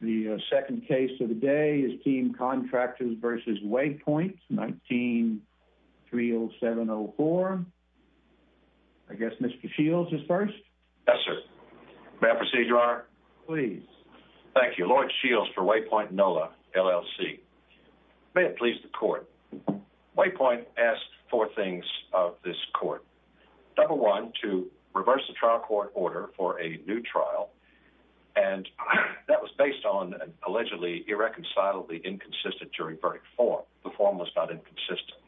The second case of the day is Team Contractors v. Waypoint, 19-30704. I guess Mr. Shields is first? Yes, sir. May I proceed, Your Honor? Please. Thank you. Lloyd Shields for Waypoint NOLA, L.L.C. May it please the Court. Waypoint asked four things of this Court. Number one, to reverse the trial court order for a new trial, and that was based on an allegedly irreconcilably inconsistent jury verdict form. The form was not inconsistent.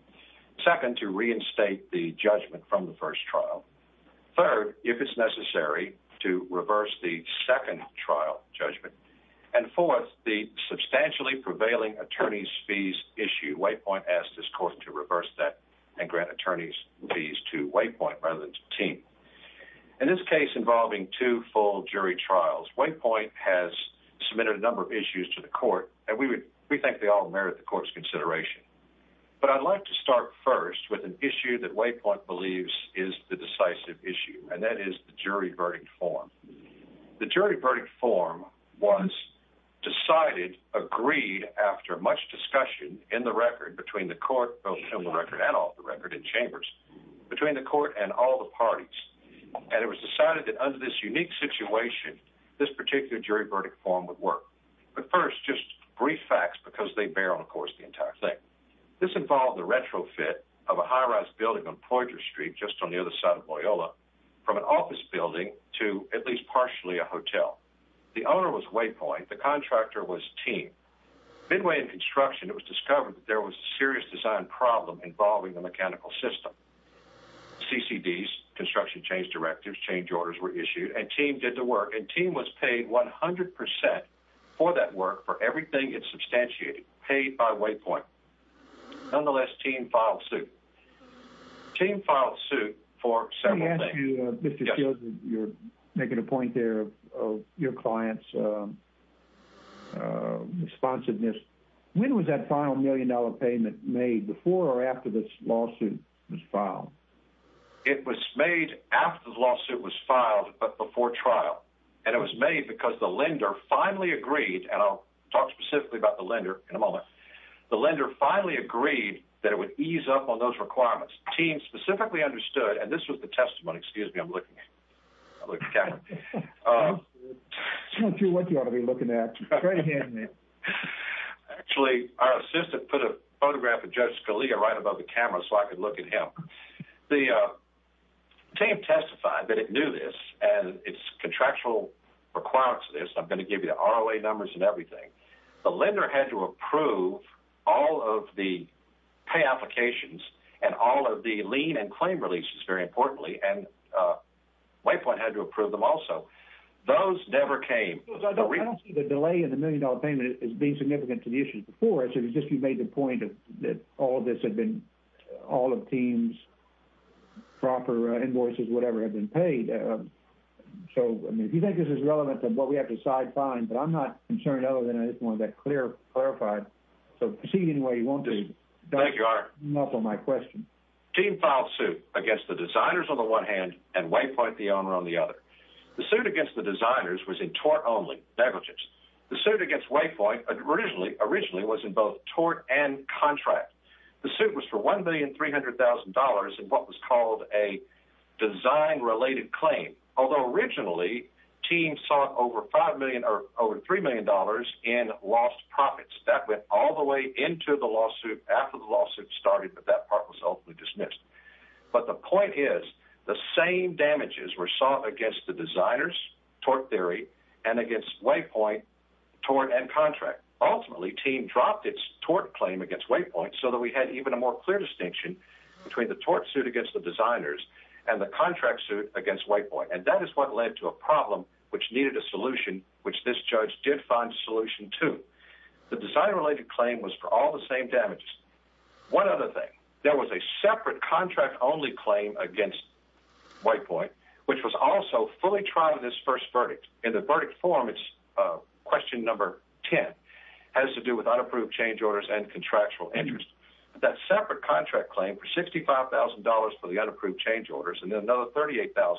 Second, to reinstate the judgment from the first trial. Third, if it's necessary, to reverse the second trial judgment. And fourth, the substantially prevailing attorney's fees issue. Waypoint asked this Court to reverse that and grant attorney's fees to Waypoint rather than to Team. In this case involving two full jury trials, Waypoint has submitted a number of issues to the Court, and we think they all merit the Court's consideration. But I'd like to start first with an issue that Waypoint believes is the decisive issue, and that is the jury verdict form. The jury verdict form was decided, agreed, after much discussion in the record, between the Court, both in the record and off the record, in chambers, between the Court and all the parties. And it was decided that under this unique situation, this particular jury verdict form would work. But first, just brief facts because they bear on, of course, the entire thing. This involved the retrofit of a high-rise building on Ploydra Street, just on the other side of Loyola, from an office building to at least partially a hotel. The owner was Waypoint. The contractor was Team. Midway in construction, it was discovered that there was a serious design problem involving the mechanical system. CCDs, construction change directives, change orders were issued, and Team did the work. And Team was paid 100% for that work, for everything it substantiated, paid by Waypoint. Nonetheless, Team filed suit. Team filed suit for several things. Mr. Shields, you're making a point there of your client's responsiveness. When was that final million-dollar payment made, before or after this lawsuit was filed? It was made after the lawsuit was filed, but before trial. And it was made because the lender finally agreed, and I'll talk specifically about the lender in a moment. The lender finally agreed that it would ease up on those requirements. Team specifically understood, and this was the testimony. Excuse me, I'm looking at the camera. I don't care what you ought to be looking at. Actually, our assistant put a photograph of Judge Scalia right above the camera so I could look at him. The team testified that it knew this, and its contractual requirements of this. I'm going to give you the ROA numbers and everything. The lender had to approve all of the pay applications and all of the lien and claim releases, very importantly. And Waypoint had to approve them also. Those never came. I don't see the delay in the million-dollar payment as being significant to the issues before. It's just you made the point that all of this had been, all of Team's proper invoices, whatever, had been paid. So, I mean, if you think this is relevant to what we have to side-find, but I'm not concerned other than I just want to get clear, clarified. So, proceed any way you want to. Thank you, Your Honor. Team filed suit against the designers on the one hand and Waypoint, the owner, on the other. The suit against the designers was in tort only negligence. The suit against Waypoint originally was in both tort and contract. The suit was for $1,300,000 in what was called a design-related claim. Although, originally, Team sought over $3 million in lost profits. That went all the way into the lawsuit after the lawsuit started, but that part was ultimately dismissed. But the point is, the same damages were sought against the designers, tort theory, and against Waypoint, tort, and contract. Ultimately, Team dropped its tort claim against Waypoint so that we had even a more clear distinction between the tort suit against the designers and the contract suit against Waypoint. And that is what led to a problem which needed a solution, which this judge did find a solution to. The design-related claim was for all the same damages. One other thing. There was a separate contract-only claim against Waypoint, which was also fully tried in this first verdict. In the verdict form, it's question number 10. It has to do with unapproved change orders and contractual interest. That separate contract claim for $65,000 for the unapproved change orders and then another $38,000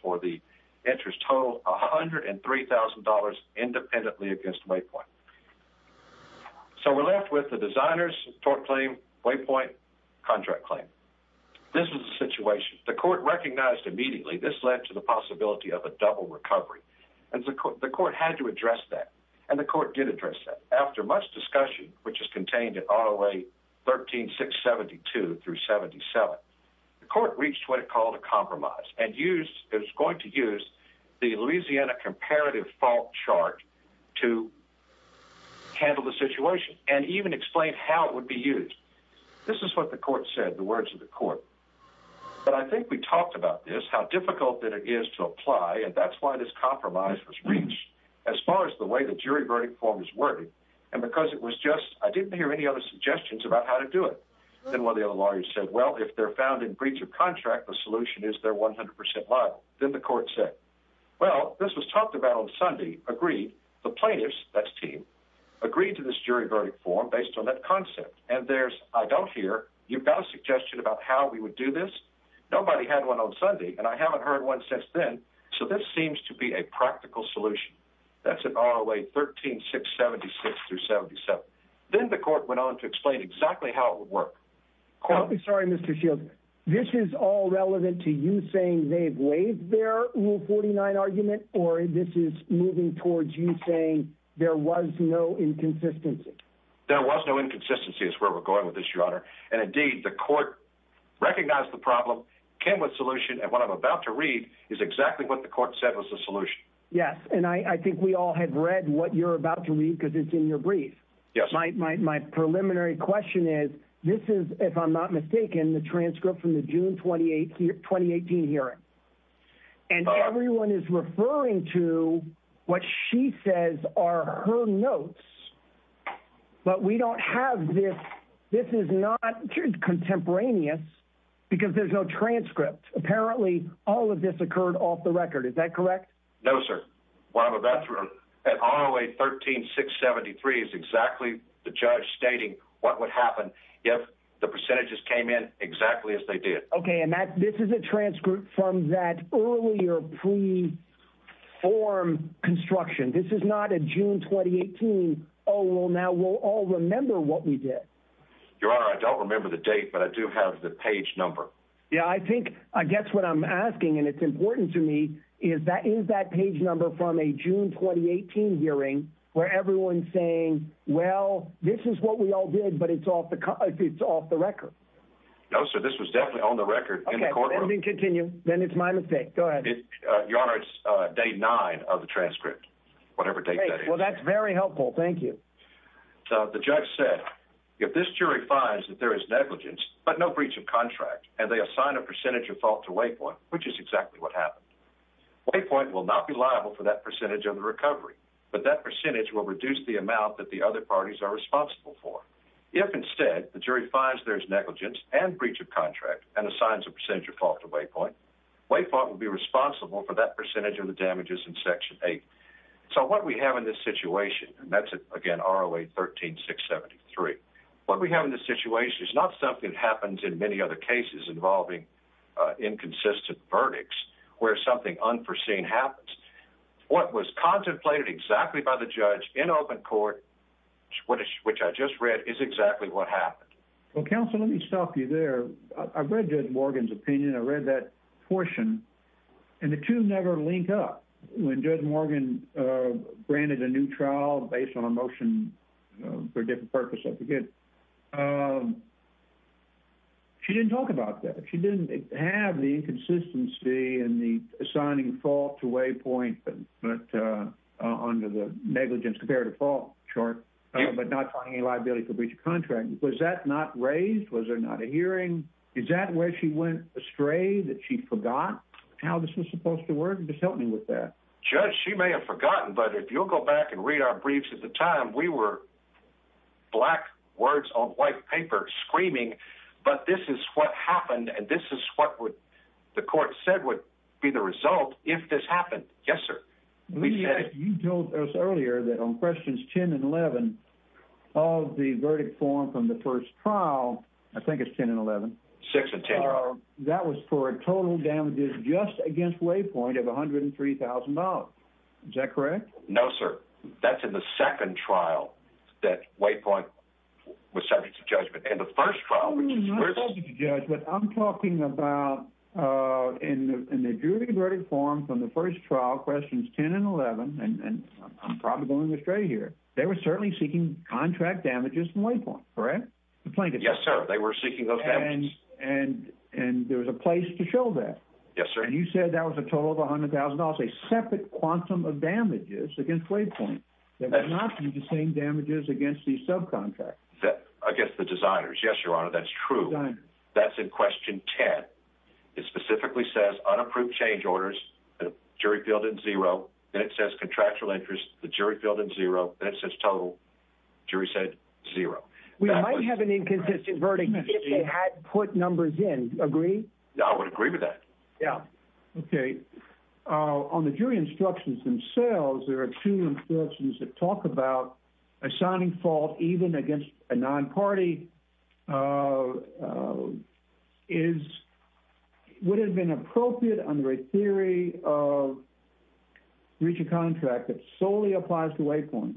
for the interest total, $103,000 independently against Waypoint. So we're left with the designers' tort claim, Waypoint, contract claim. This was the situation. The court recognized immediately this led to the possibility of a double recovery. And the court had to address that. And the court did address that. After much discussion, which is contained in ROA 13-672-77, the court reached what it called a compromise and used – it was going to use the Louisiana Comparative Fault Chart to handle the situation and even explain how it would be used. This is what the court said, the words of the court. But I think we talked about this, how difficult that it is to apply. And that's why this compromise was reached as far as the way the jury verdict form is working. And because it was just – I didn't hear any other suggestions about how to do it. Then one of the other lawyers said, well, if they're found in breach of contract, the solution is they're 100 percent liable. Then the court said, well, this was talked about on Sunday, agreed. The plaintiffs – that's team – agreed to this jury verdict form based on that concept. And there's – I don't hear – you've got a suggestion about how we would do this? Nobody had one on Sunday, and I haven't heard one since then. So this seems to be a practical solution. That's an ROA 13-676-77. Then the court went on to explain exactly how it would work. I'm sorry, Mr. Shields. This is all relevant to you saying they've waived their Rule 49 argument, or this is moving towards you saying there was no inconsistency? There was no inconsistency is where we're going with this, Your Honor. And indeed, the court recognized the problem, came with a solution, and what I'm about to read is exactly what the court said was the solution. Yes, and I think we all have read what you're about to read because it's in your brief. Yes. My preliminary question is, this is, if I'm not mistaken, the transcript from the June 2018 hearing. And everyone is referring to what she says are her notes, but we don't have this. This is not contemporaneous because there's no transcript. Apparently, all of this occurred off the record. Is that correct? No, sir. What I'm about to – ROA 13-673 is exactly the judge stating what would happen if the percentages came in exactly as they did. Okay, and this is a transcript from that earlier pre-form construction. This is not a June 2018, oh, well, now we'll all remember what we did. Your Honor, I don't remember the date, but I do have the page number. Yeah, I think – I guess what I'm asking, and it's important to me, is that is that page number from a June 2018 hearing where everyone's saying, well, this is what we all did, but it's off the record. No, sir, this was definitely on the record in the courtroom. Okay, then we can continue. Then it's my mistake. Go ahead. Your Honor, it's day nine of the transcript, whatever date that is. Well, that's very helpful. Thank you. The judge said, if this jury finds that there is negligence, but no breach of contract, and they assign a percentage of fault to Waypoint, which is exactly what happened, Waypoint will not be liable for that percentage of the recovery, but that percentage will reduce the amount that the other parties are responsible for. If, instead, the jury finds there's negligence and breach of contract and assigns a percentage of fault to Waypoint, Waypoint will be responsible for that percentage of the damages in Section 8. So what we have in this situation – and that's, again, ROA 13673 – what we have in this situation is not something that happens in many other cases involving inconsistent verdicts where something unforeseen happens. What was contemplated exactly by the judge in open court, which I just read, is exactly what happened. Well, counsel, let me stop you there. I read Judge Morgan's opinion. I read that portion, and the two never link up. When Judge Morgan granted a new trial based on a motion for a different purpose, I forget, she didn't talk about that. She didn't have the inconsistency in the assigning fault to Waypoint under the negligence comparative fault chart, but not finding any liability for breach of contract. Was that not raised? Was there not a hearing? Is that where she went astray, that she forgot how this was supposed to work? Just help me with that. Judge, she may have forgotten, but if you'll go back and read our briefs at the time, we were black words on white paper screaming, but this is what happened, and this is what the court said would be the result if this happened. Yes, sir. You told us earlier that on questions 10 and 11 of the verdict form from the first trial – I think it's 10 and 11. 6 and 10. That was for total damages just against Waypoint of $103,000. Is that correct? No, sir. That's in the second trial that Waypoint was subject to judgment. I'm not subject to judgment. I'm talking about in the jury verdict form from the first trial, questions 10 and 11, and I'm probably going astray here. They were certainly seeking contract damages from Waypoint, correct? Yes, sir. They were seeking those damages. And there was a place to show that. Yes, sir. And you said that was a total of $100,000, a separate quantum of damages against Waypoint. They were not using damages against the subcontract. Against the designers. Yes, Your Honor, that's true. Designers. That's in question 10. It specifically says unapproved change orders. The jury fielded zero. Then it says contractual interest. The jury fielded zero. Then it says total. The jury said zero. We might have an inconsistent verdict if they had put numbers in. Agree? I would agree with that. Okay. On the jury instructions themselves, there are two instructions that talk about assigning fault even against a non-party. Would it have been appropriate under a theory of breach of contract that solely applies to Waypoint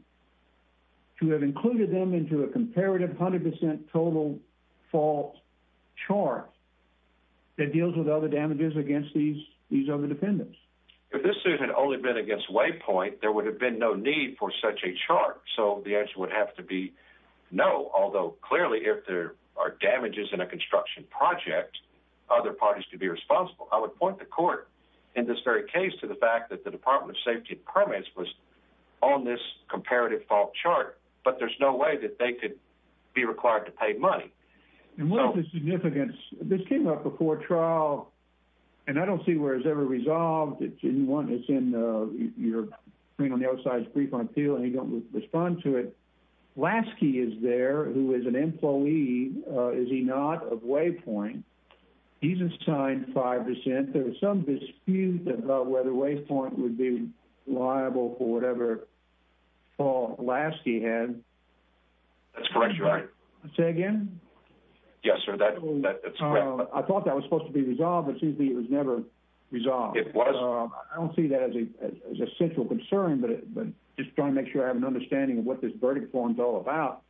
to have included them into a comparative 100% total fault chart that deals with other damages against these other defendants? If this suit had only been against Waypoint, there would have been no need for such a chart. So the answer would have to be no, although clearly if there are damages in a construction project, other parties could be responsible. I would point the court in this very case to the fact that the Department of Safety premise was on this comparative fault chart, but there's no way that they could be required to pay money. And what is the significance? This came up before trial, and I don't see where it's ever resolved. It's in your screen on the outside's brief on appeal, and you don't respond to it. Lasky is there, who is an employee, is he not, of Waypoint. He's assigned 5%. There was some dispute about whether Waypoint would be liable for whatever fault Lasky had. That's correct, Your Honor. Say again? Yes, sir, that's correct. I thought that was supposed to be resolved, but it seems to me it was never resolved. It was. I don't see that as a central concern, but just trying to make sure I have an understanding of what this verdict form is all about.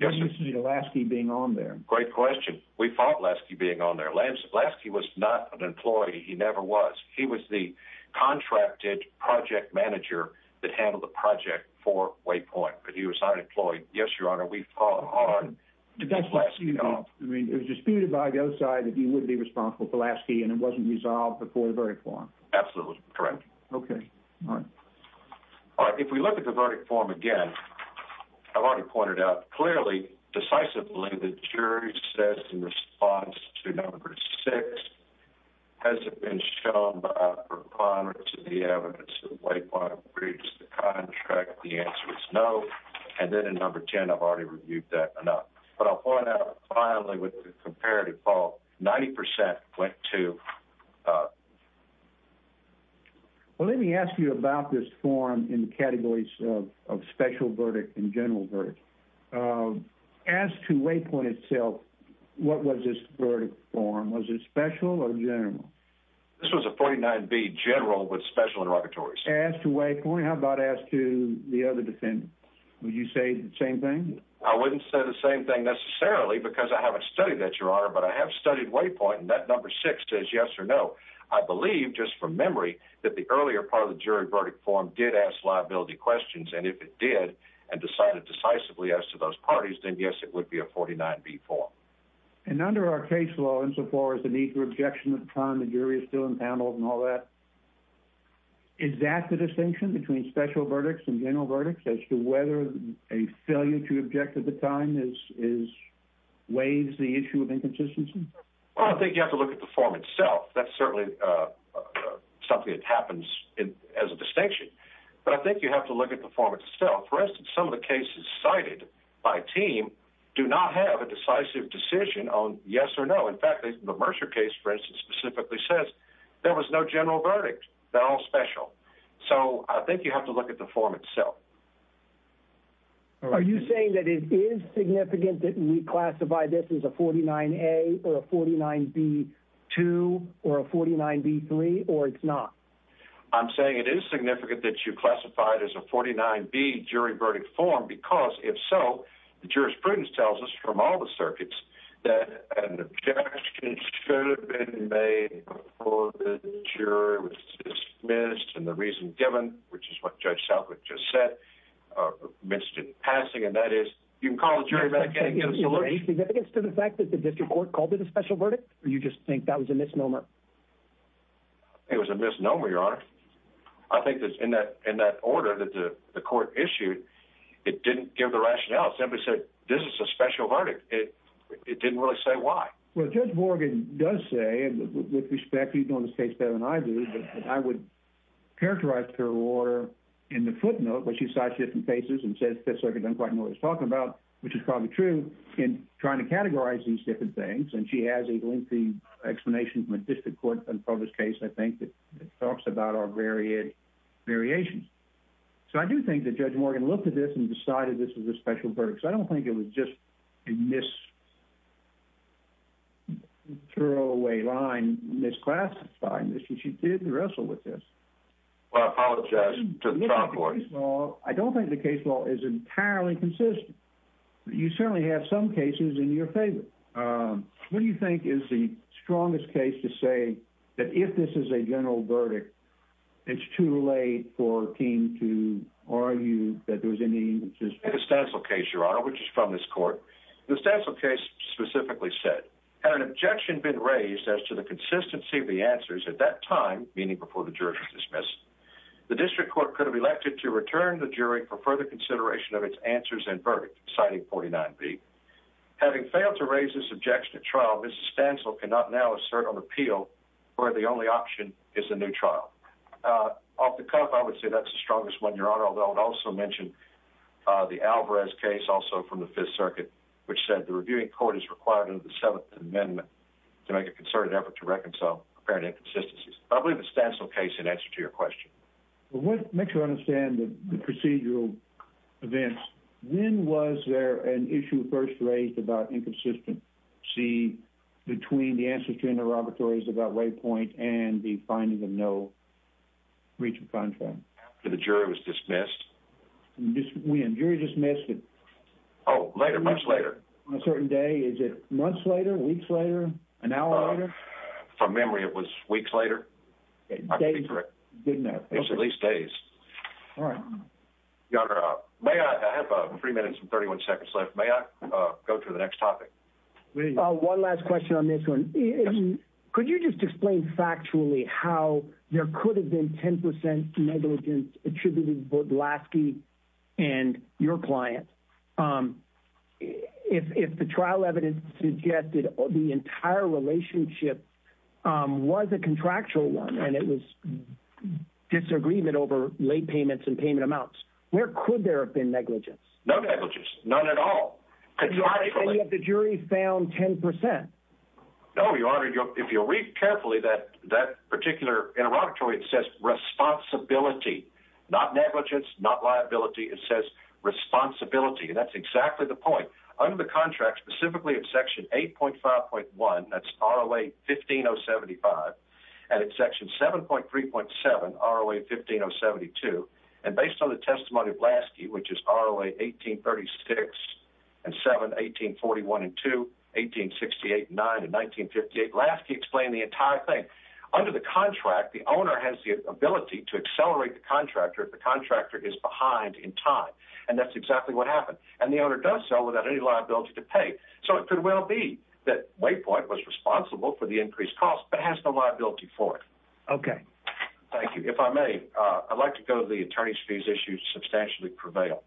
What do you see Lasky being on there? Great question. We fought Lasky being on there. Lasky was not an employee, he never was. He was the contracted project manager that handled the project for Waypoint, but he was unemployed. Yes, Your Honor, we fought on Lasky. It was disputed by the other side that he would be responsible for Lasky, and it wasn't resolved before the verdict form. Absolutely correct. Okay, all right. All right, if we look at the verdict form again, I've already pointed out clearly, decisively, the jury says in response to number 6, has it been shown by a proponent to the evidence that Waypoint breached the contract? The answer is no. And then in number 10, I've already reviewed that enough. But I'll point out finally with the comparative fault, 90% went to... Well, let me ask you about this form in categories of special verdict and general verdict. As to Waypoint itself, what was this verdict form? Was it special or general? This was a 49B general with special interrogatories. As to Waypoint, how about as to the other defendants? Would you say the same thing? I wouldn't say the same thing necessarily because I haven't studied that, Your Honor, but I have studied Waypoint, and that number 6 says yes or no. I believe, just from memory, that the earlier part of the jury verdict form did ask liability questions. And if it did and decided decisively as to those parties, then yes, it would be a 49B form. And under our case law, insofar as the need for objection at the time, the jury is still in panel and all that. Is that the distinction between special verdicts and general verdicts as to whether a failure to object at the time weighs the issue of inconsistency? Well, I think you have to look at the form itself. That's certainly something that happens as a distinction. But I think you have to look at the form itself. For instance, some of the cases cited by team do not have a decisive decision on yes or no. In fact, the Mercer case, for instance, specifically says there was no general verdict. They're all special. So I think you have to look at the form itself. Are you saying that it is significant that we classify this as a 49A or a 49B2 or a 49B3, or it's not? I'm saying it is significant that you classify it as a 49B jury verdict form because, if so, the jurisprudence tells us from all the circuits, that an objection should have been made before the jury was dismissed and the reason given, which is what Judge Southwick just said, missed in passing. And that is, you can call the jury back in and get a solution. Is there any significance to the fact that the district court called it a special verdict, or you just think that was a misnomer? I think it was a misnomer, Your Honor. I think that in that order that the court issued, it didn't give the rationale. It simply said, this is a special verdict. It didn't really say why. Well, Judge Morgan does say, and with respect, you know this case better than I do, that I would characterize the parole order in the footnote where she cites different cases and says the Fifth Circuit doesn't quite know what it's talking about, which is probably true, in trying to categorize these different things. And she has a lengthy explanation from a district court unpublished case, I think, that talks about our variations. So I do think that Judge Morgan looked at this and decided this was a special verdict. I don't think it was just a mis-throwaway line, misclassified. She did wrestle with this. Well, I apologize to the trial court. I don't think the case law is entirely consistent. You certainly have some cases in your favor. What do you think is the strongest case to say that if this is a general verdict, it's too late for King to argue that there was any... The Stancil case, Your Honor, which is from this court. The Stancil case specifically said, had an objection been raised as to the consistency of the answers at that time, meaning before the jury was dismissed, the district court could have elected to return the jury for further consideration of its answers and verdict, citing 49B. Having failed to raise this objection at trial, Mrs. Stancil cannot now assert on appeal, where the only option is a new trial. Off the cuff, I would say that's the strongest one, Your Honor, although it also mentioned the Alvarez case, also from the Fifth Circuit, which said the reviewing court is required under the Seventh Amendment to make a concerted effort to reconcile apparent inconsistencies. I believe the Stancil case in answer to your question. Let's make sure I understand the procedural events. When was there an issue first raised about inconsistency between the answers to interrogatories about Waypoint and the finding of no breach of contract? When the jury was dismissed? When? The jury dismissed it... Oh, later, months later. On a certain day? Is it months later, weeks later, an hour later? From memory, it was weeks later. I could be correct. It's at least days. Your Honor, I have three minutes and 31 seconds left. May I go to the next topic? One last question on this one. Could you just explain factually how there could have been 10% negligence attributed to both Lasky and your client? If the trial evidence suggested the entire relationship was a contractual one, and it was disagreement over late payments and payment amounts, where could there have been negligence? No negligence. None at all. And yet the jury found 10%. No, Your Honor. If you'll read carefully, that particular interrogatory, it says responsibility. Not negligence, not liability. It says responsibility, and that's exactly the point. Under the contract, specifically at section 8.5.1, that's ROA 15075, and at section 7.3.7, ROA 15072, and based on the testimony of Lasky, which is ROA 1836 and 7, 1841 and 2, 1868 and 9, and 1958, Lasky explained the entire thing. Under the contract, the owner has the ability to accelerate the contractor if the contractor is behind in time, and that's exactly what happened. And the owner does so without any liability to pay. So it could well be that Waypoint was responsible for the increased cost but has no liability for it. Okay. Thank you. If I may, I'd like to go to the attorney's fees issue, substantially prevail.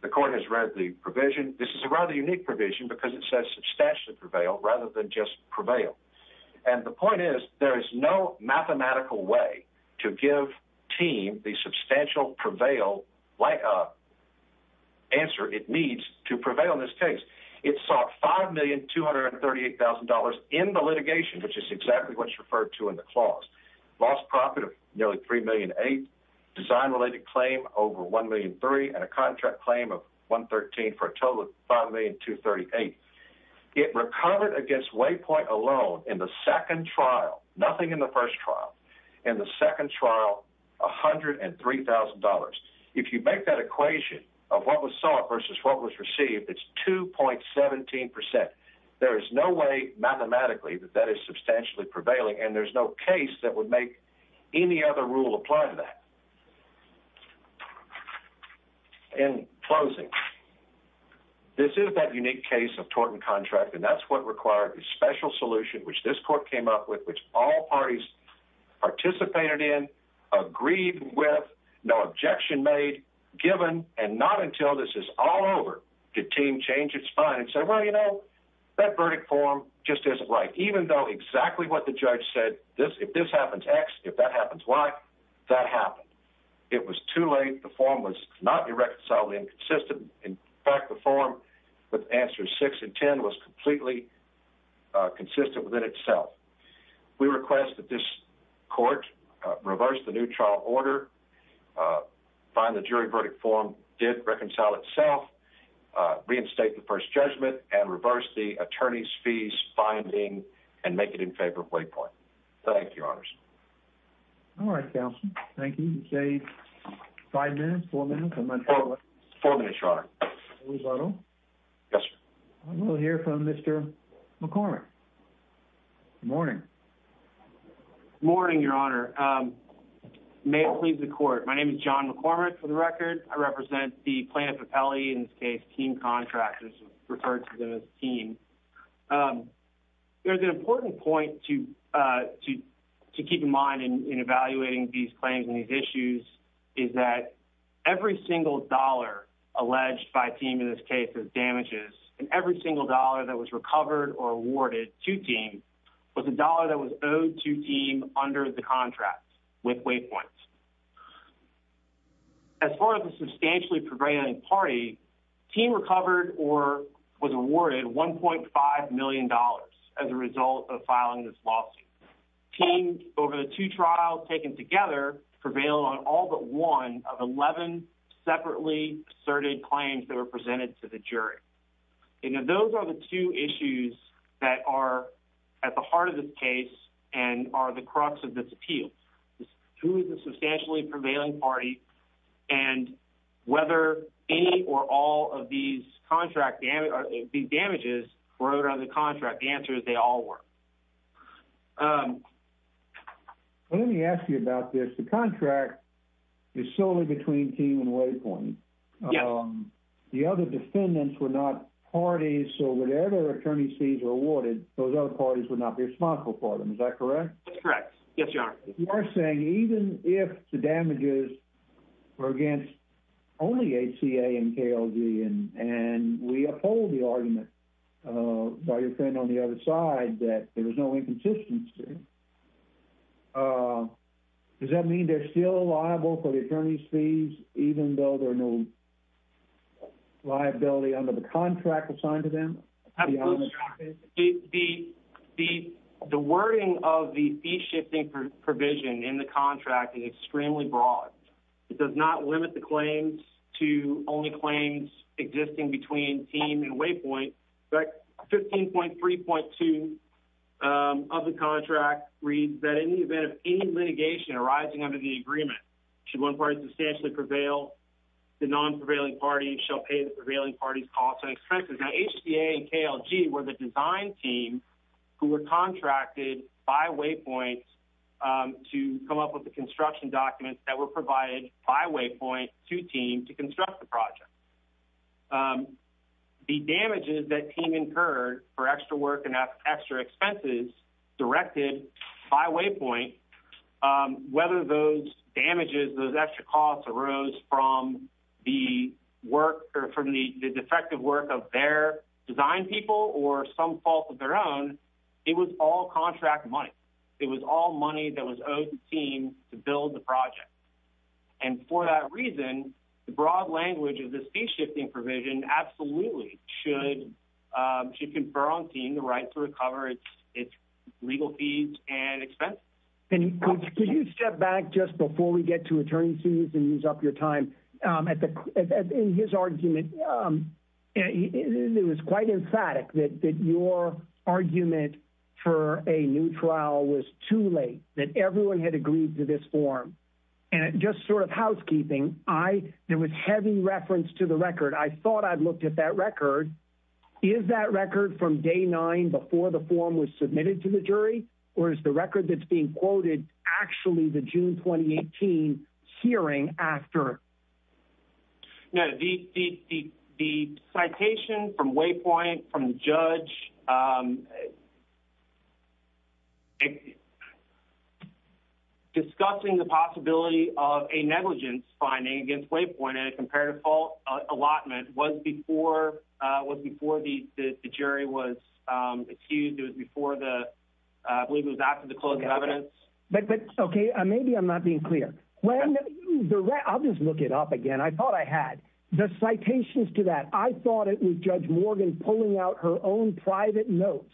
The court has read the provision. This is a rather unique provision because it says substantially prevail rather than just prevail. And the point is there is no mathematical way to give TEAM the substantial prevail answer it needs to prevail in this case. It sought $5,238,000 in the litigation, which is exactly what's referred to in the clause. Lost profit of nearly $3.8 million, design-related claim over $1.3 million, and a contract claim of $113,000 for a total of $5,238,000. It recovered against Waypoint alone in the second trial, nothing in the first trial. In the second trial, $103,000. If you make that equation of what was sought versus what was received, it's 2.17%. There is no way mathematically that that is substantially prevailing, and there's no case that would make any other rule apply to that. In closing, this is that unique case of tort and contract, and that's what required a special solution, which this court came up with, which all parties participated in, agreed with, no objection made, given, and not until this is all over did TEAM change its mind and say, well, you know, that verdict form just isn't right. Even though exactly what the judge said, if this happens X, if that happens Y, that happened. It was too late. The form was not irreconcilably inconsistent. In fact, the form with answers 6 and 10 was completely consistent within itself. We request that this court reverse the new trial order, find the jury verdict form did reconcile itself, reinstate the first judgment, and reverse the attorney's fees finding, and make it in favor of Wake Point. Thank you, Your Honors. All right, Counselor. Thank you. You say five minutes, four minutes? Four minutes, Your Honor. Lou Zotto? Yes, sir. We'll hear from Mr. McCormick. Good morning. Good morning, Your Honor. May it please the court, my name is John McCormick for the record. I represent the plaintiff appellee, in this case TEAM contractors, referred to them as TEAM. There's an important point to keep in mind in evaluating these claims and these issues, is that every single dollar alleged by TEAM in this case as damages, and every single dollar that was recovered or awarded to TEAM was a dollar that was owed to TEAM under the contract with Wake Point. As far as the substantially prevailing party, TEAM recovered or was awarded $1.5 million as a result of filing this lawsuit. TEAM, over the two trials taken together, prevailed on all but one of 11 separately asserted claims that were presented to the jury. Those are the two issues that are at the heart of this case and are the crux of this appeal. Who is the substantially prevailing party and whether any or all of these damages were owed under the contract, the answer is they all were. Let me ask you about this. The contract is solely between TEAM and Wake Point. Yes. The other defendants were not parties, so whatever attorney's fees were awarded, those other parties would not be responsible for them. Is that correct? That's correct. Yes, Your Honor. You are saying even if the damages were against only ACA and KLG and we uphold the argument by your friend on the other side that there was no inconsistency, does that mean they're still liable for the attorney's fees even though there's no liability under the contract assigned to them? The wording of the fee-shifting provision in the contract is extremely broad. It does not limit the claims to only claims existing between TEAM and Wake Point, but 15.3.2 of the contract reads that in the event of any litigation arising under the agreement, should one party substantially prevail, the non-prevailing party shall pay the prevailing party's costs and expenses. Now, ACA and KLG were the design team who were contracted by Wake Point to come up with the construction documents that were provided by Wake Point to TEAM to construct the project. The damages that TEAM incurred for extra work and extra expenses directed by Wake Point, whether those damages, those extra costs arose from the defective work of their design people or some fault of their own, it was all contract money. It was all money that was owed to TEAM to build the project. And for that reason, the broad language of the fee-shifting provision absolutely should confer on TEAM the right to recover its legal fees and expenses. Could you step back just before we get to attorney fees and use up your time? In his argument, it was quite emphatic that your argument for a new trial was too late, that everyone had agreed to this form. And just sort of housekeeping, there was heavy reference to the record. I thought I'd looked at that record. Is that record from day nine before the form was submitted to the jury, or is the record that's being quoted actually the June 2018 hearing after? No, the citation from Wake Point, from the judge, discussing the possibility of a negligence finding against Wake Point in a comparative fault allotment was before the jury was accused. It was before the, I believe it was after the closing of evidence. Okay, maybe I'm not being clear. I'll just look it up again. I thought I had the citations to that. I thought it was Judge Morgan pulling out her own private notes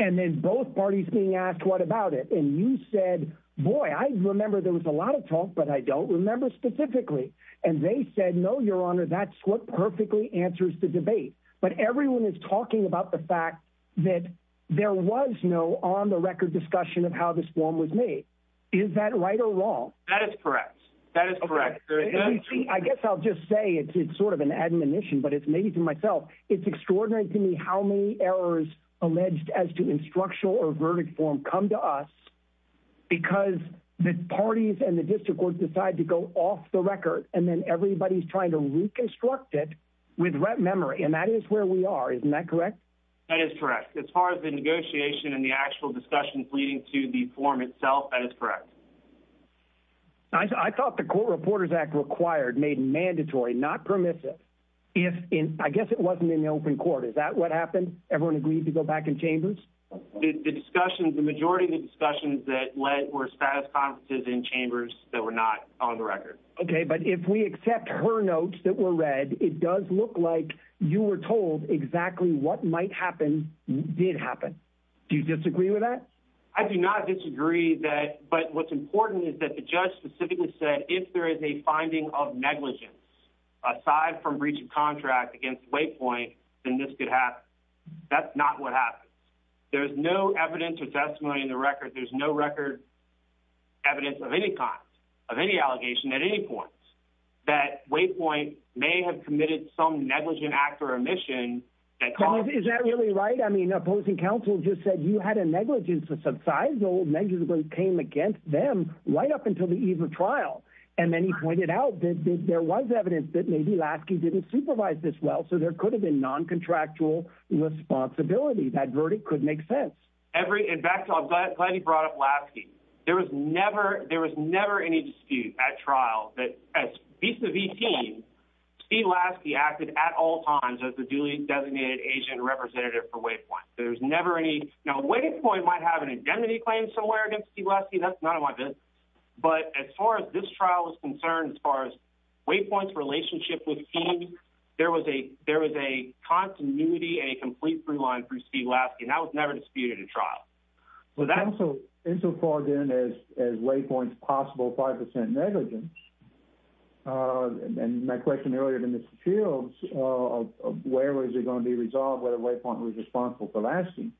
and then both parties being asked what about it? And you said, boy, I remember there was a lot of talk, but I don't remember specifically. And they said, no, your honor, that's what perfectly answers the debate. But everyone is talking about the fact that there was no on the record discussion of how this form was made. Is that right or wrong? That is correct. That is correct. I guess I'll just say it's sort of an admonition, but it's maybe to myself. It's extraordinary to me how many errors alleged as to instructional or verdict form come to us because the parties and the district court decide to go off the record. And then everybody's trying to reconstruct it with memory. And that is where we are. Isn't that correct? That is correct. As far as the negotiation and the actual discussions leading to the form itself, that is correct. I thought the Court Reporters Act required made mandatory, not permissive. I guess it wasn't in the open court. Is that what happened? Everyone agreed to go back in chambers? The majority of the discussions that led were status conferences in chambers that were not on the record. Okay, but if we accept her notes that were read, it does look like you were told exactly what might happen did happen. Do you disagree with that? I do not disagree, but what's important is that the judge specifically said if there is a finding of negligence aside from breach of contract against Waypoint, then this could happen. That's not what happened. There's no evidence or testimony in the record. There's no record evidence of any kind, of any allegation at any point, that Waypoint may have committed some negligent act or omission. Is that really right? I mean, opposing counsel just said you had a negligence of some size. No negligence came against them right up until the eve of trial. And then he pointed out that there was evidence that maybe Lasky didn't supervise this well, so there could have been noncontractual responsibility. That verdict could make sense. In fact, I'm glad you brought up Lasky. There was never any dispute at trial that vis-a-vis team, Steve Lasky acted at all times as the duly designated agent representative for Waypoint. Now, Waypoint might have an indemnity claim somewhere against Steve Lasky. That's none of my business. But as far as this trial is concerned, as far as Waypoint's relationship with team, there was a continuity and a complete free line for Steve Lasky. That was never disputed in trial. Counsel called in as Waypoint's possible 5% negligence, and my question earlier to Mr. Shields, where was it going to be resolved whether Waypoint was responsible for Lasky?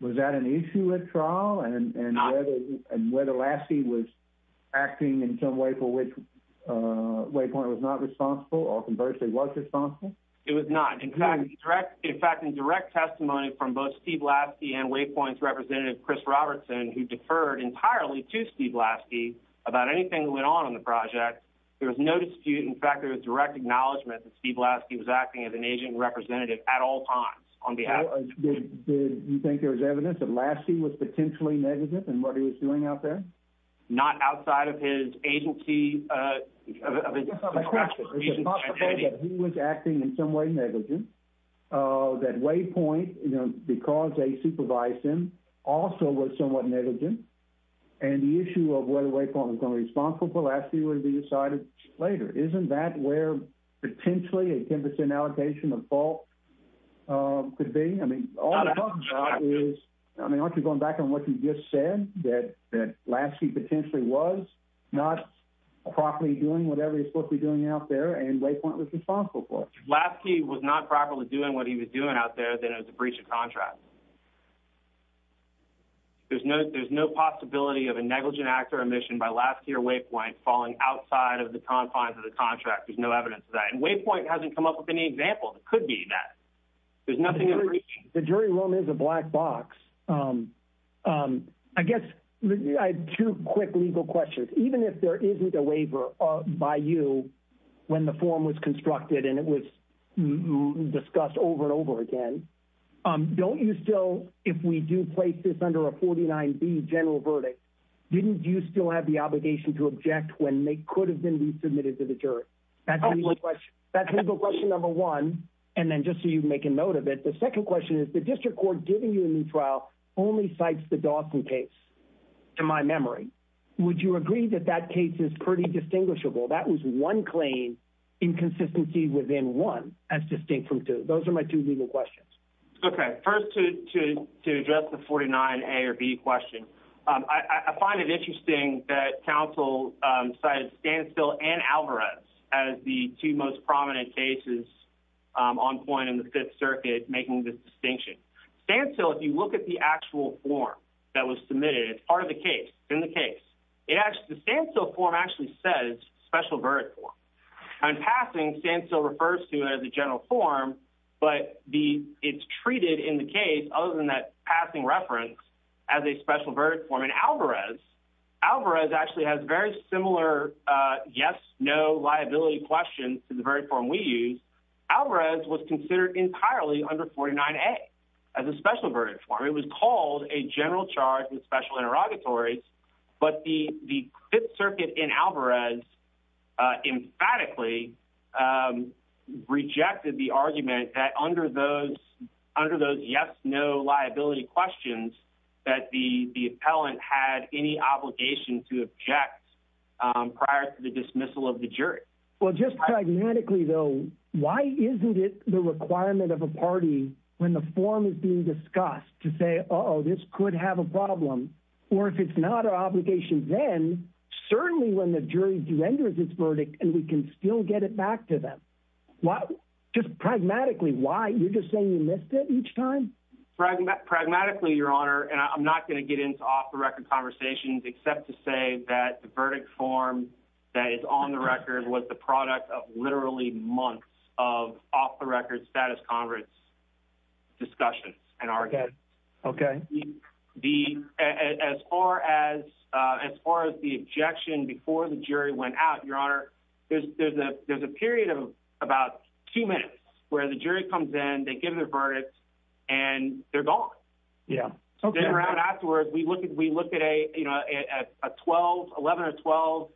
Was that an issue at trial and whether Lasky was acting in some way for which Waypoint was not responsible or conversely was responsible? It was not. In fact, in direct testimony from both Steve Lasky and Waypoint's representative, Chris Robertson, who deferred entirely to Steve Lasky about anything that went on in the project, there was no dispute. In fact, there was direct acknowledgment that Steve Lasky was acting as an agent representative at all times on behalf of Waypoint. Did you think there was evidence that Lasky was potentially negligent in what he was doing out there? Not outside of his agency? It's possible that he was acting in some way negligent, that Waypoint, because they supervised him, also was somewhat negligent, and the issue of whether Waypoint was going to be responsible for Lasky would be decided later. Isn't that where potentially a 10% allocation of fault could be? Aren't you going back on what you just said, that Lasky potentially was not properly doing whatever he was supposed to be doing out there and Waypoint was responsible for it? If Lasky was not properly doing what he was doing out there, then it was a breach of contract. There's no possibility of a negligent act or omission by Lasky or Waypoint falling outside of the confines of the contract. There's no evidence of that. And Waypoint hasn't come up with any examples. It could be that. The jury room is a black box. I guess I have two quick legal questions. Even if there isn't a waiver by you when the form was constructed and it was discussed over and over again, don't you still, if we do place this under a 49B general verdict, didn't you still have the obligation to object when they could have been resubmitted to the jury? That's legal question number one. And then just so you make a note of it, the second question is the district court giving you a new trial only cites the Dawson case, to my memory. Would you agree that that case is pretty distinguishable? That was one claim inconsistency within one as distinct from two. Those are my two legal questions. Okay. First, to address the 49A or B question, I find it interesting that counsel cited Stancil and Alvarez as the two most prominent cases on point in the Fifth Circuit making this distinction. Stancil, if you look at the actual form that was submitted, it's part of the case. It's in the case. The Stancil form actually says special verdict form. In passing, Stancil refers to it as a general form, but it's treated in the case, other than that passing reference, as a special verdict form. In Alvarez, Alvarez actually has very similar yes, no liability questions to the verdict form we use. Alvarez was considered entirely under 49A as a special verdict form. It was called a general charge with special interrogatories, but the Fifth Circuit in Alvarez emphatically rejected the argument that under those yes, no liability questions that the appellant had any obligation to object prior to the dismissal of the jury. Well, just pragmatically, though, why isn't it the requirement of a party when the form is being discussed to say, uh-oh, this could have a problem? Or if it's not an obligation then, certainly when the jury renders its verdict and we can still get it back to them. Just pragmatically, why? You're just saying you missed it each time? Pragmatically, Your Honor, and I'm not going to get into off-the-record conversations except to say that the verdict form that is on the record was the product of literally months of off-the-record status conference discussions and arguments. Okay. As far as the objection before the jury went out, Your Honor, there's a period of about two minutes where the jury comes in, they give their verdict, and they're gone. Yeah. Afterwards, we looked at a 12, 11 or 12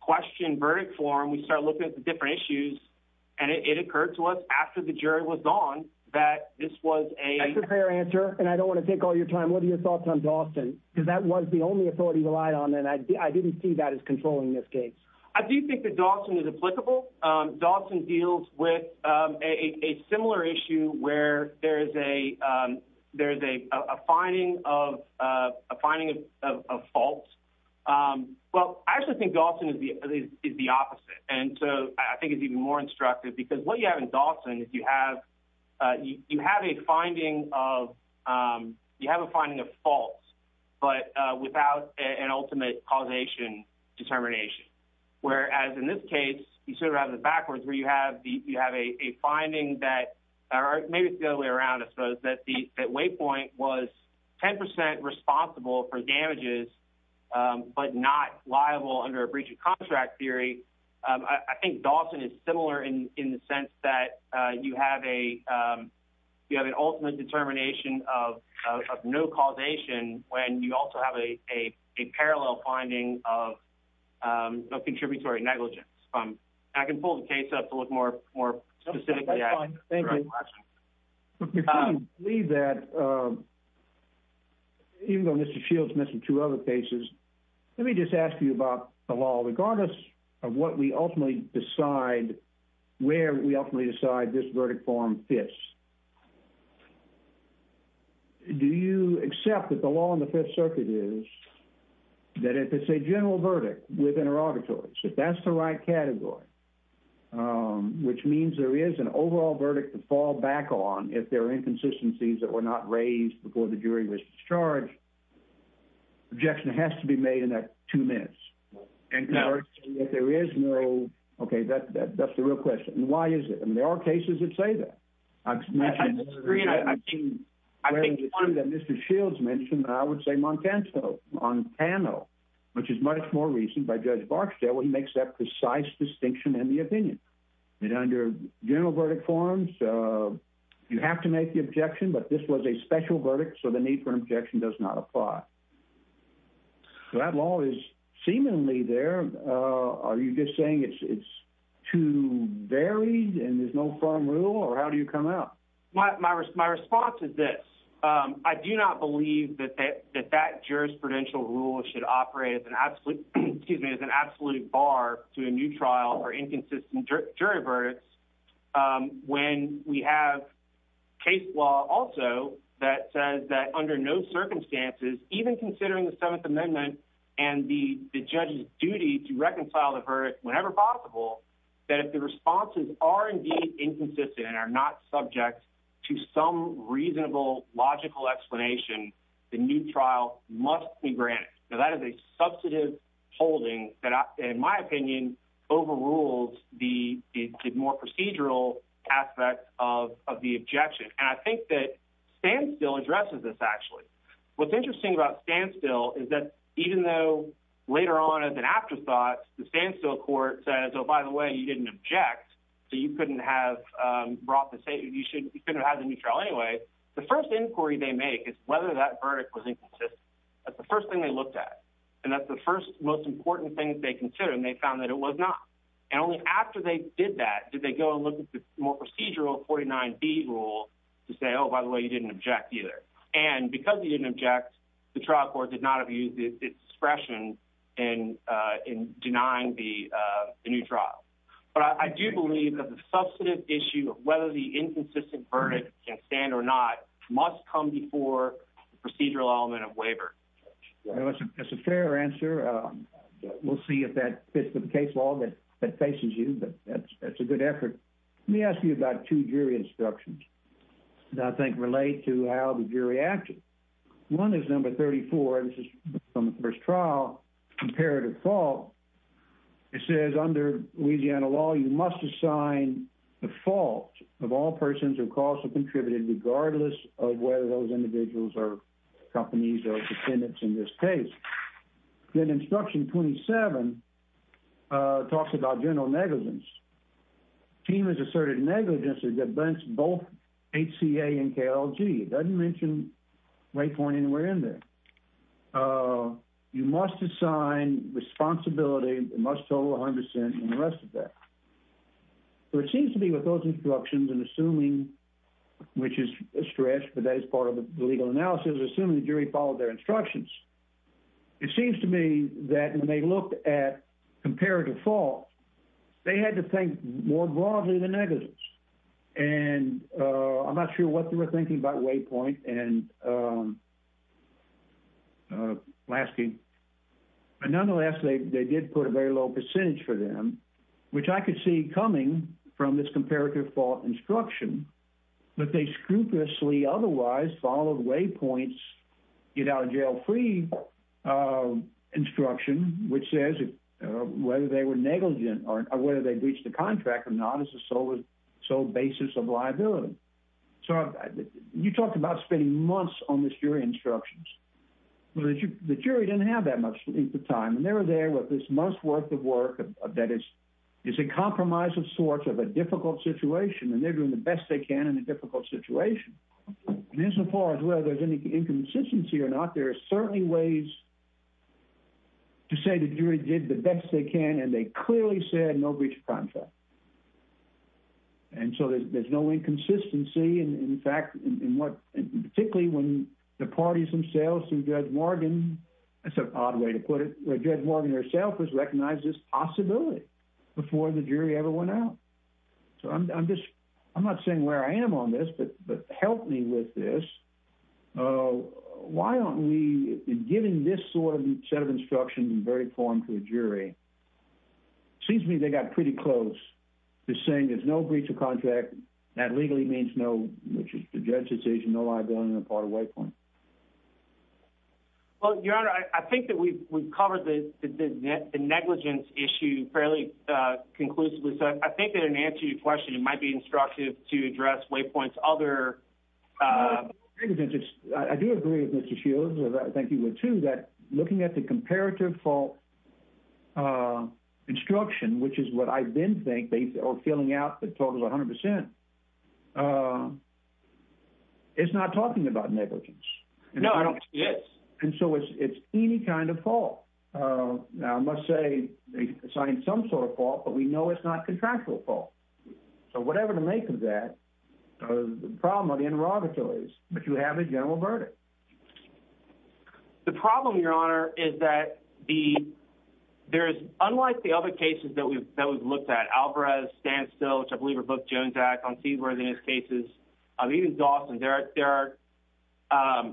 question verdict form. We started looking at the different issues, and it occurred to us after the jury was gone that this was a— That's a fair answer, and I don't want to take all your time. What are your thoughts on Dawson? Because that was the only authority relied on, and I didn't see that as controlling this case. I do think that Dawson is applicable. Dawson deals with a similar issue where there is a finding of fault. Well, I actually think Dawson is the opposite, and so I think it's even more instructive because what you have in Dawson is you have a finding of fault but without an ultimate causation determination, whereas in this case, you sort of have it backwards where you have a finding that—or maybe it's the other way around, I suppose—that Waypoint was 10 percent responsible for damages but not liable under a breach of contract theory. I think Dawson is similar in the sense that you have an ultimate determination of no causation when you also have a parallel finding of contributory negligence. I can pull the case up to look more specifically at it. Thank you. Before you leave that, even though Mr. Shields mentioned two other cases, let me just ask you about the law. Regardless of what we ultimately decide, where we ultimately decide this verdict form fits, do you accept that the law in the Fifth Circuit is that if it's a general verdict with interrogatories, that that's the right category, which means there is an overall verdict to fall back on if there are inconsistencies that were not raised before the jury was discharged. Objection has to be made in that two minutes. No. Okay, that's the real question. Why is it? I mean, there are cases that say that. I think one that Mr. Shields mentioned, I would say Montano, which is much more recent by Judge Barksdale. He makes that precise distinction in the opinion. Under general verdict forms, you have to make the objection, but this was a special verdict, so the need for an objection does not apply. That law is seemingly there. Are you just saying it's too varied and there's no firm rule, or how do you come out? My response is this. I do not believe that that jurisprudential rule should operate as an absolute bar to a new trial or inconsistent jury verdicts when we have case law also that says that under no circumstances, even considering the Seventh Amendment and the judge's duty to reconcile the verdict whenever possible, that if the responses are indeed inconsistent and are not subject to some reasonable, logical explanation, the new trial must be granted. Now, that is a substantive holding that, in my opinion, overrules the more procedural aspect of the objection. And I think that Standstill addresses this, actually. What's interesting about Standstill is that even though later on, as an afterthought, the Standstill court said, oh, by the way, you didn't object, so you couldn't have brought the — you shouldn't have had the new trial anyway, the first inquiry they make is whether that verdict was inconsistent. That's the first thing they looked at, and that's the first, most important thing they considered, and they found that it was not. And only after they did that did they go and look at the more procedural 49B rule to say, oh, by the way, you didn't object either. And because you didn't object, the trial court did not abuse its discretion in denying the new trial. But I do believe that the substantive issue of whether the inconsistent verdict can stand or not must come before the procedural element of waiver. That's a fair answer. We'll see if that fits with the case law that faces you, but that's a good effort. Let me ask you about two jury instructions that I think relate to how the jury acted. One is number 34, and this is from the first trial, comparative fault. It says, under Louisiana law, you must assign the fault of all persons whose costs are contributed regardless of whether those individuals are companies or dependents in this case. Then instruction 27 talks about general negligence. The team has asserted negligence against both HCA and KLG. It doesn't mention white corn anywhere in there. You must assign responsibility, must total 100 cents, and the rest of that. It seems to me with those instructions, and assuming, which is a stretch, but that is part of the legal analysis, assuming the jury followed their instructions, it seems to me that when they looked at comparative fault, they had to think more broadly than negligence. And I'm not sure what they were thinking about waypoint and Lasky. But nonetheless, they did put a very low percentage for them, which I could see coming from this comparative fault instruction, but they scrupulously otherwise followed waypoints, get out of jail free instruction, which says whether they were negligent or whether they breached the contract or not is the sole basis of liability. So you talked about spending months on the jury instructions. The jury didn't have that much time, and they were there with this month's worth of work that is a compromise of sorts of a difficult situation, and they're doing the best they can in a difficult situation. And as far as whether there's any inconsistency or not, there are certainly ways to say the jury did the best they can, and they clearly said no breach of contract. And so there's no inconsistency. In fact, particularly when the parties themselves and Judge Morgan, that's an odd way to put it, Judge Morgan herself has recognized this possibility before the jury ever went out. So I'm not saying where I am on this, but help me with this. Why aren't we giving this sort of set of instructions in very form to the jury? It seems to me they got pretty close to saying there's no breach of contract. That legally means no, which is the judge's decision, no liability on the part of waypoint. Well, Your Honor, I think that we've covered the negligence issue fairly conclusively, so I think that in answer to your question, it might be instructive to address waypoint's other. I do agree with Mr. Shields, and I think you would too, that looking at the comparative fault instruction, which is what I then think, or filling out the total 100%, it's not talking about negligence. No, I don't think it is. And so it's any kind of fault. Now, I must say, it's not some sort of fault, but we know it's not contractual fault. So whatever the make of that, the problem of the interrogator is that you have a general verdict. The problem, Your Honor, is that there is, unlike the other cases that we've looked at, Alvarez, Standstill, which I believe are both Jones' acts on Seedworth and his cases, even Dawson, there are,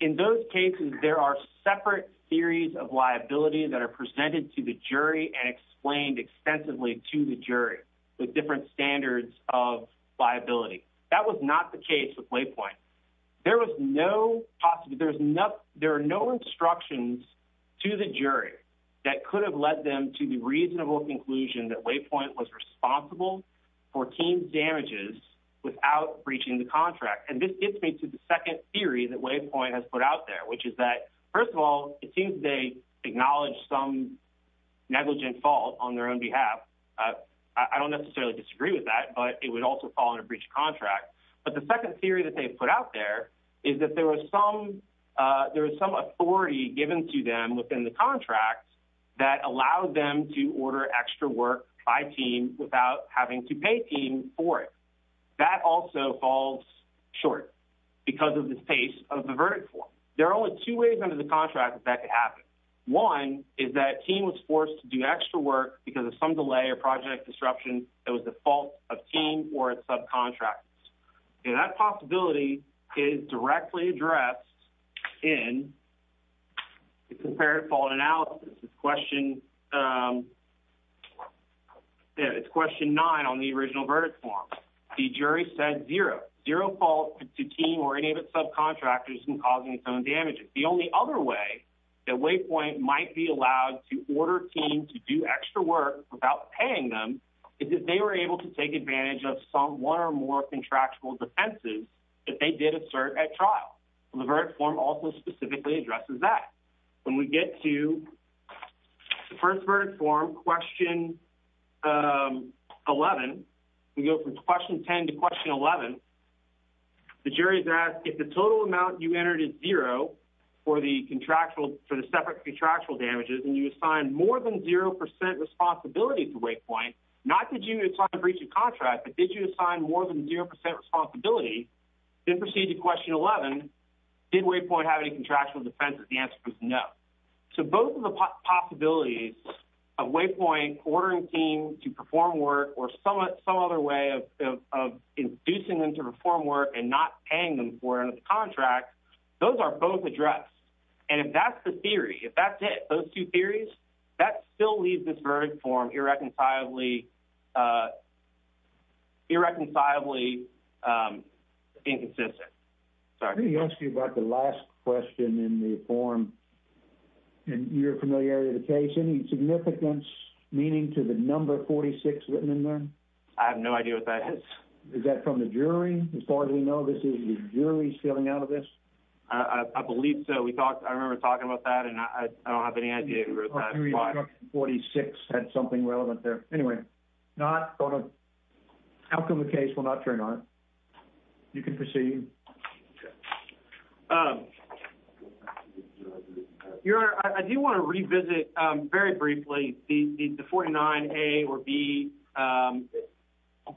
in those cases, there are separate theories of liability that are presented to the jury and explained extensively to the jury with different standards of liability. That was not the case with waypoint. There was no, there are no instructions to the jury that could have led them to the reasonable conclusion that waypoint was responsible for team's damages without breaching the contract. And this gets me to the second theory that waypoint has put out there, which is that, first of all, it seems they acknowledge some negligent fault on their own behalf. I don't necessarily disagree with that, but it would also fall under breach of contract. But the second theory that they put out there is that there was some authority given to them within the contract that allowed them to order extra work by team without having to pay team for it. That also falls short because of the pace of the verdict form. There are only two ways under the contract that that could happen. One is that team was forced to do extra work because of some delay or project disruption that was the fault of team or its subcontractors. And that possibility is directly addressed in the comparative fault analysis. It's question nine on the original verdict form. The jury said zero, zero fault to team or any of its subcontractors in causing its own damages. The only other way that waypoint might be allowed to order team to do extra work without paying them is if they were able to take advantage of some one or more contractual defenses that they did assert at trial. The verdict form also specifically addresses that. When we get to the first verdict form, question 11, we go from question 10 to question 11. The jury is asked if the total amount you entered is zero for the separate contractual damages and you assigned more than zero percent responsibility to waypoint, not that you assigned breach of contract, but did you assign more than zero percent responsibility, then proceed to question 11, did waypoint have any contractual defenses? The answer is no. So both of the possibilities of waypoint ordering team to perform work or some other way of inducing them to perform work and not paying them for it under the contract, those are both addressed. And if that's the theory, if that's it, those two theories, that still leaves this verdict form irreconcilably inconsistent. Let me ask you about the last question in the form. You're familiar with the case. Any significance meaning to the number 46 written in there? I have no idea what that is. Is that from the jury? As far as we know, this is the jury stealing out of this? I believe so. I remember talking about that, and I don't have any idea who wrote that. 46 had something relevant there. Anyway, how come the case will not turn on? You can proceed. Your Honor, I do want to revisit very briefly the 49A or B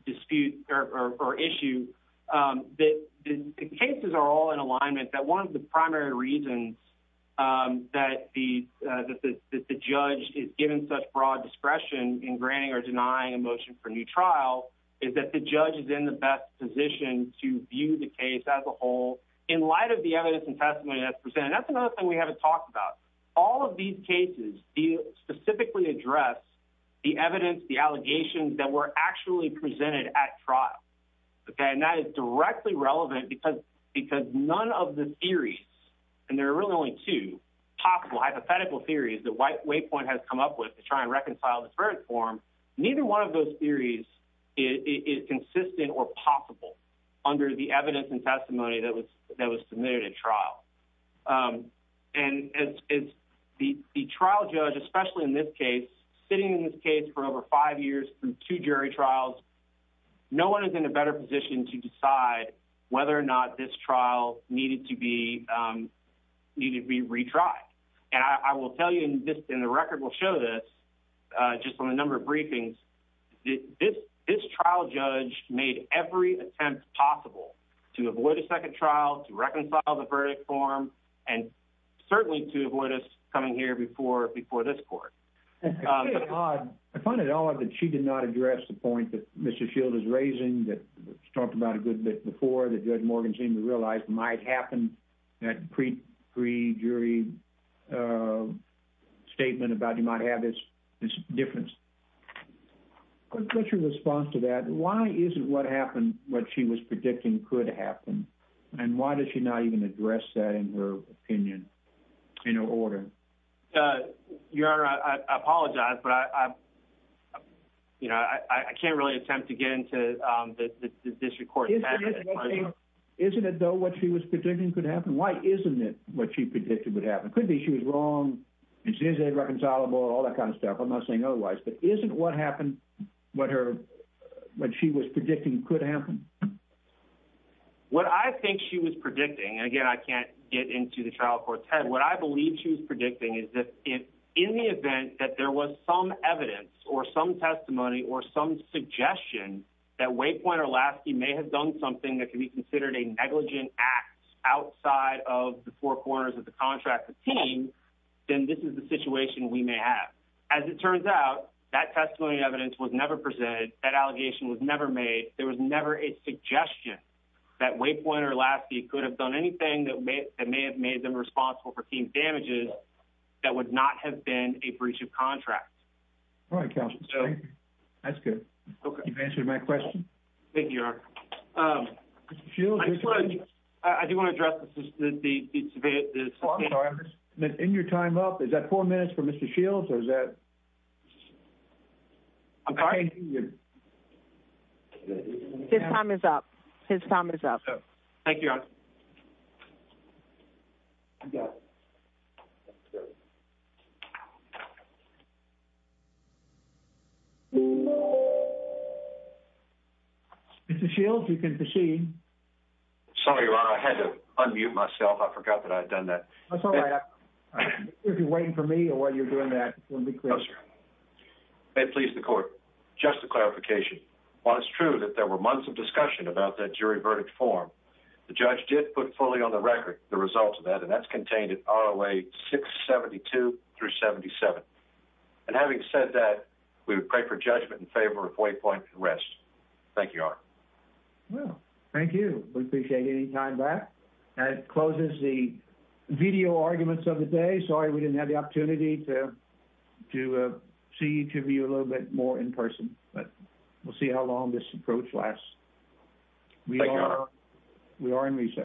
dispute or issue. The cases are all in alignment. One of the primary reasons that the judge is given such broad discretion in granting or denying a motion for a new trial is that the judge is in the best position to view the case as a whole in light of the evidence and testimony that's presented. That's another thing we haven't talked about. All of these cases specifically address the evidence, the allegations that were actually presented at trial. That is directly relevant because none of the theories, and there are really only two possible hypothetical theories that White Waypoint has come up with to try and reconcile the current form, neither one of those theories is consistent or possible under the evidence and testimony that was submitted at trial. The trial judge, especially in this case, sitting in this case for over five years through two jury trials, no one is in a better position to decide whether or not this trial needed to be retried. I will tell you, and the record will show this just from a number of briefings, this trial judge made every attempt possible to avoid a second trial, to reconcile the verdict form, and certainly to avoid us coming here before this court. I find it odd that she did not address the point that Mr. Shield is raising, that was talked about a good bit before, that Judge Morgan seemed to realize might happen, that pre-jury statement about you might have this difference. What's your response to that? Why isn't what happened what she was predicting could happen? And why did she not even address that in her opinion, in her order? Your Honor, I apologize, but I can't really attempt to get into the district court's method. Isn't it though what she was predicting could happen? Why isn't it what she predicted would happen? It could be she was wrong, she isn't irreconcilable, all that kind of stuff. I'm not saying otherwise. But isn't what happened what she was predicting could happen? What I think she was predicting, and again, I can't get into the trial court's head, but what I believe she was predicting is that if in the event that there was some evidence or some testimony or some suggestion that Waypoint or Lasky may have done something that could be considered a negligent act outside of the four corners of the contract of the team, then this is the situation we may have. As it turns out, that testimony evidence was never presented, that allegation was never made, there was never a suggestion that Waypoint or Lasky could have done anything that may have made them responsible for team damages that would not have been a breach of contract. All right, counsel. Thank you. That's good. Okay. You've answered my question. Thank you, Your Honor. Mr. Shields? I do want to address this. In your time up, is that four minutes for Mr. Shields or is that? I'm sorry? His time is up. His time is up. Thank you, Your Honor. You got it. Mr. Shields, you can proceed. Sorry, Your Honor. I had to unmute myself. I forgot that I had done that. That's all right. If you're waiting for me or while you're doing that, we'll be clear. No, sir. May it please the Court. Just a clarification. While it's true that there were months of discussion about that jury verdict form, the judge did put fully on the record the results of that, and that's contained in ROA 672 through 77. And having said that, we would pray for judgment in favor of waypoint arrest. Thank you, Your Honor. Well, thank you. We appreciate any time back. That closes the video arguments of the day. Sorry we didn't have the opportunity to see each of you a little bit more in person, but we'll see how long this approach lasts. Thank you, Your Honor. We are in recess.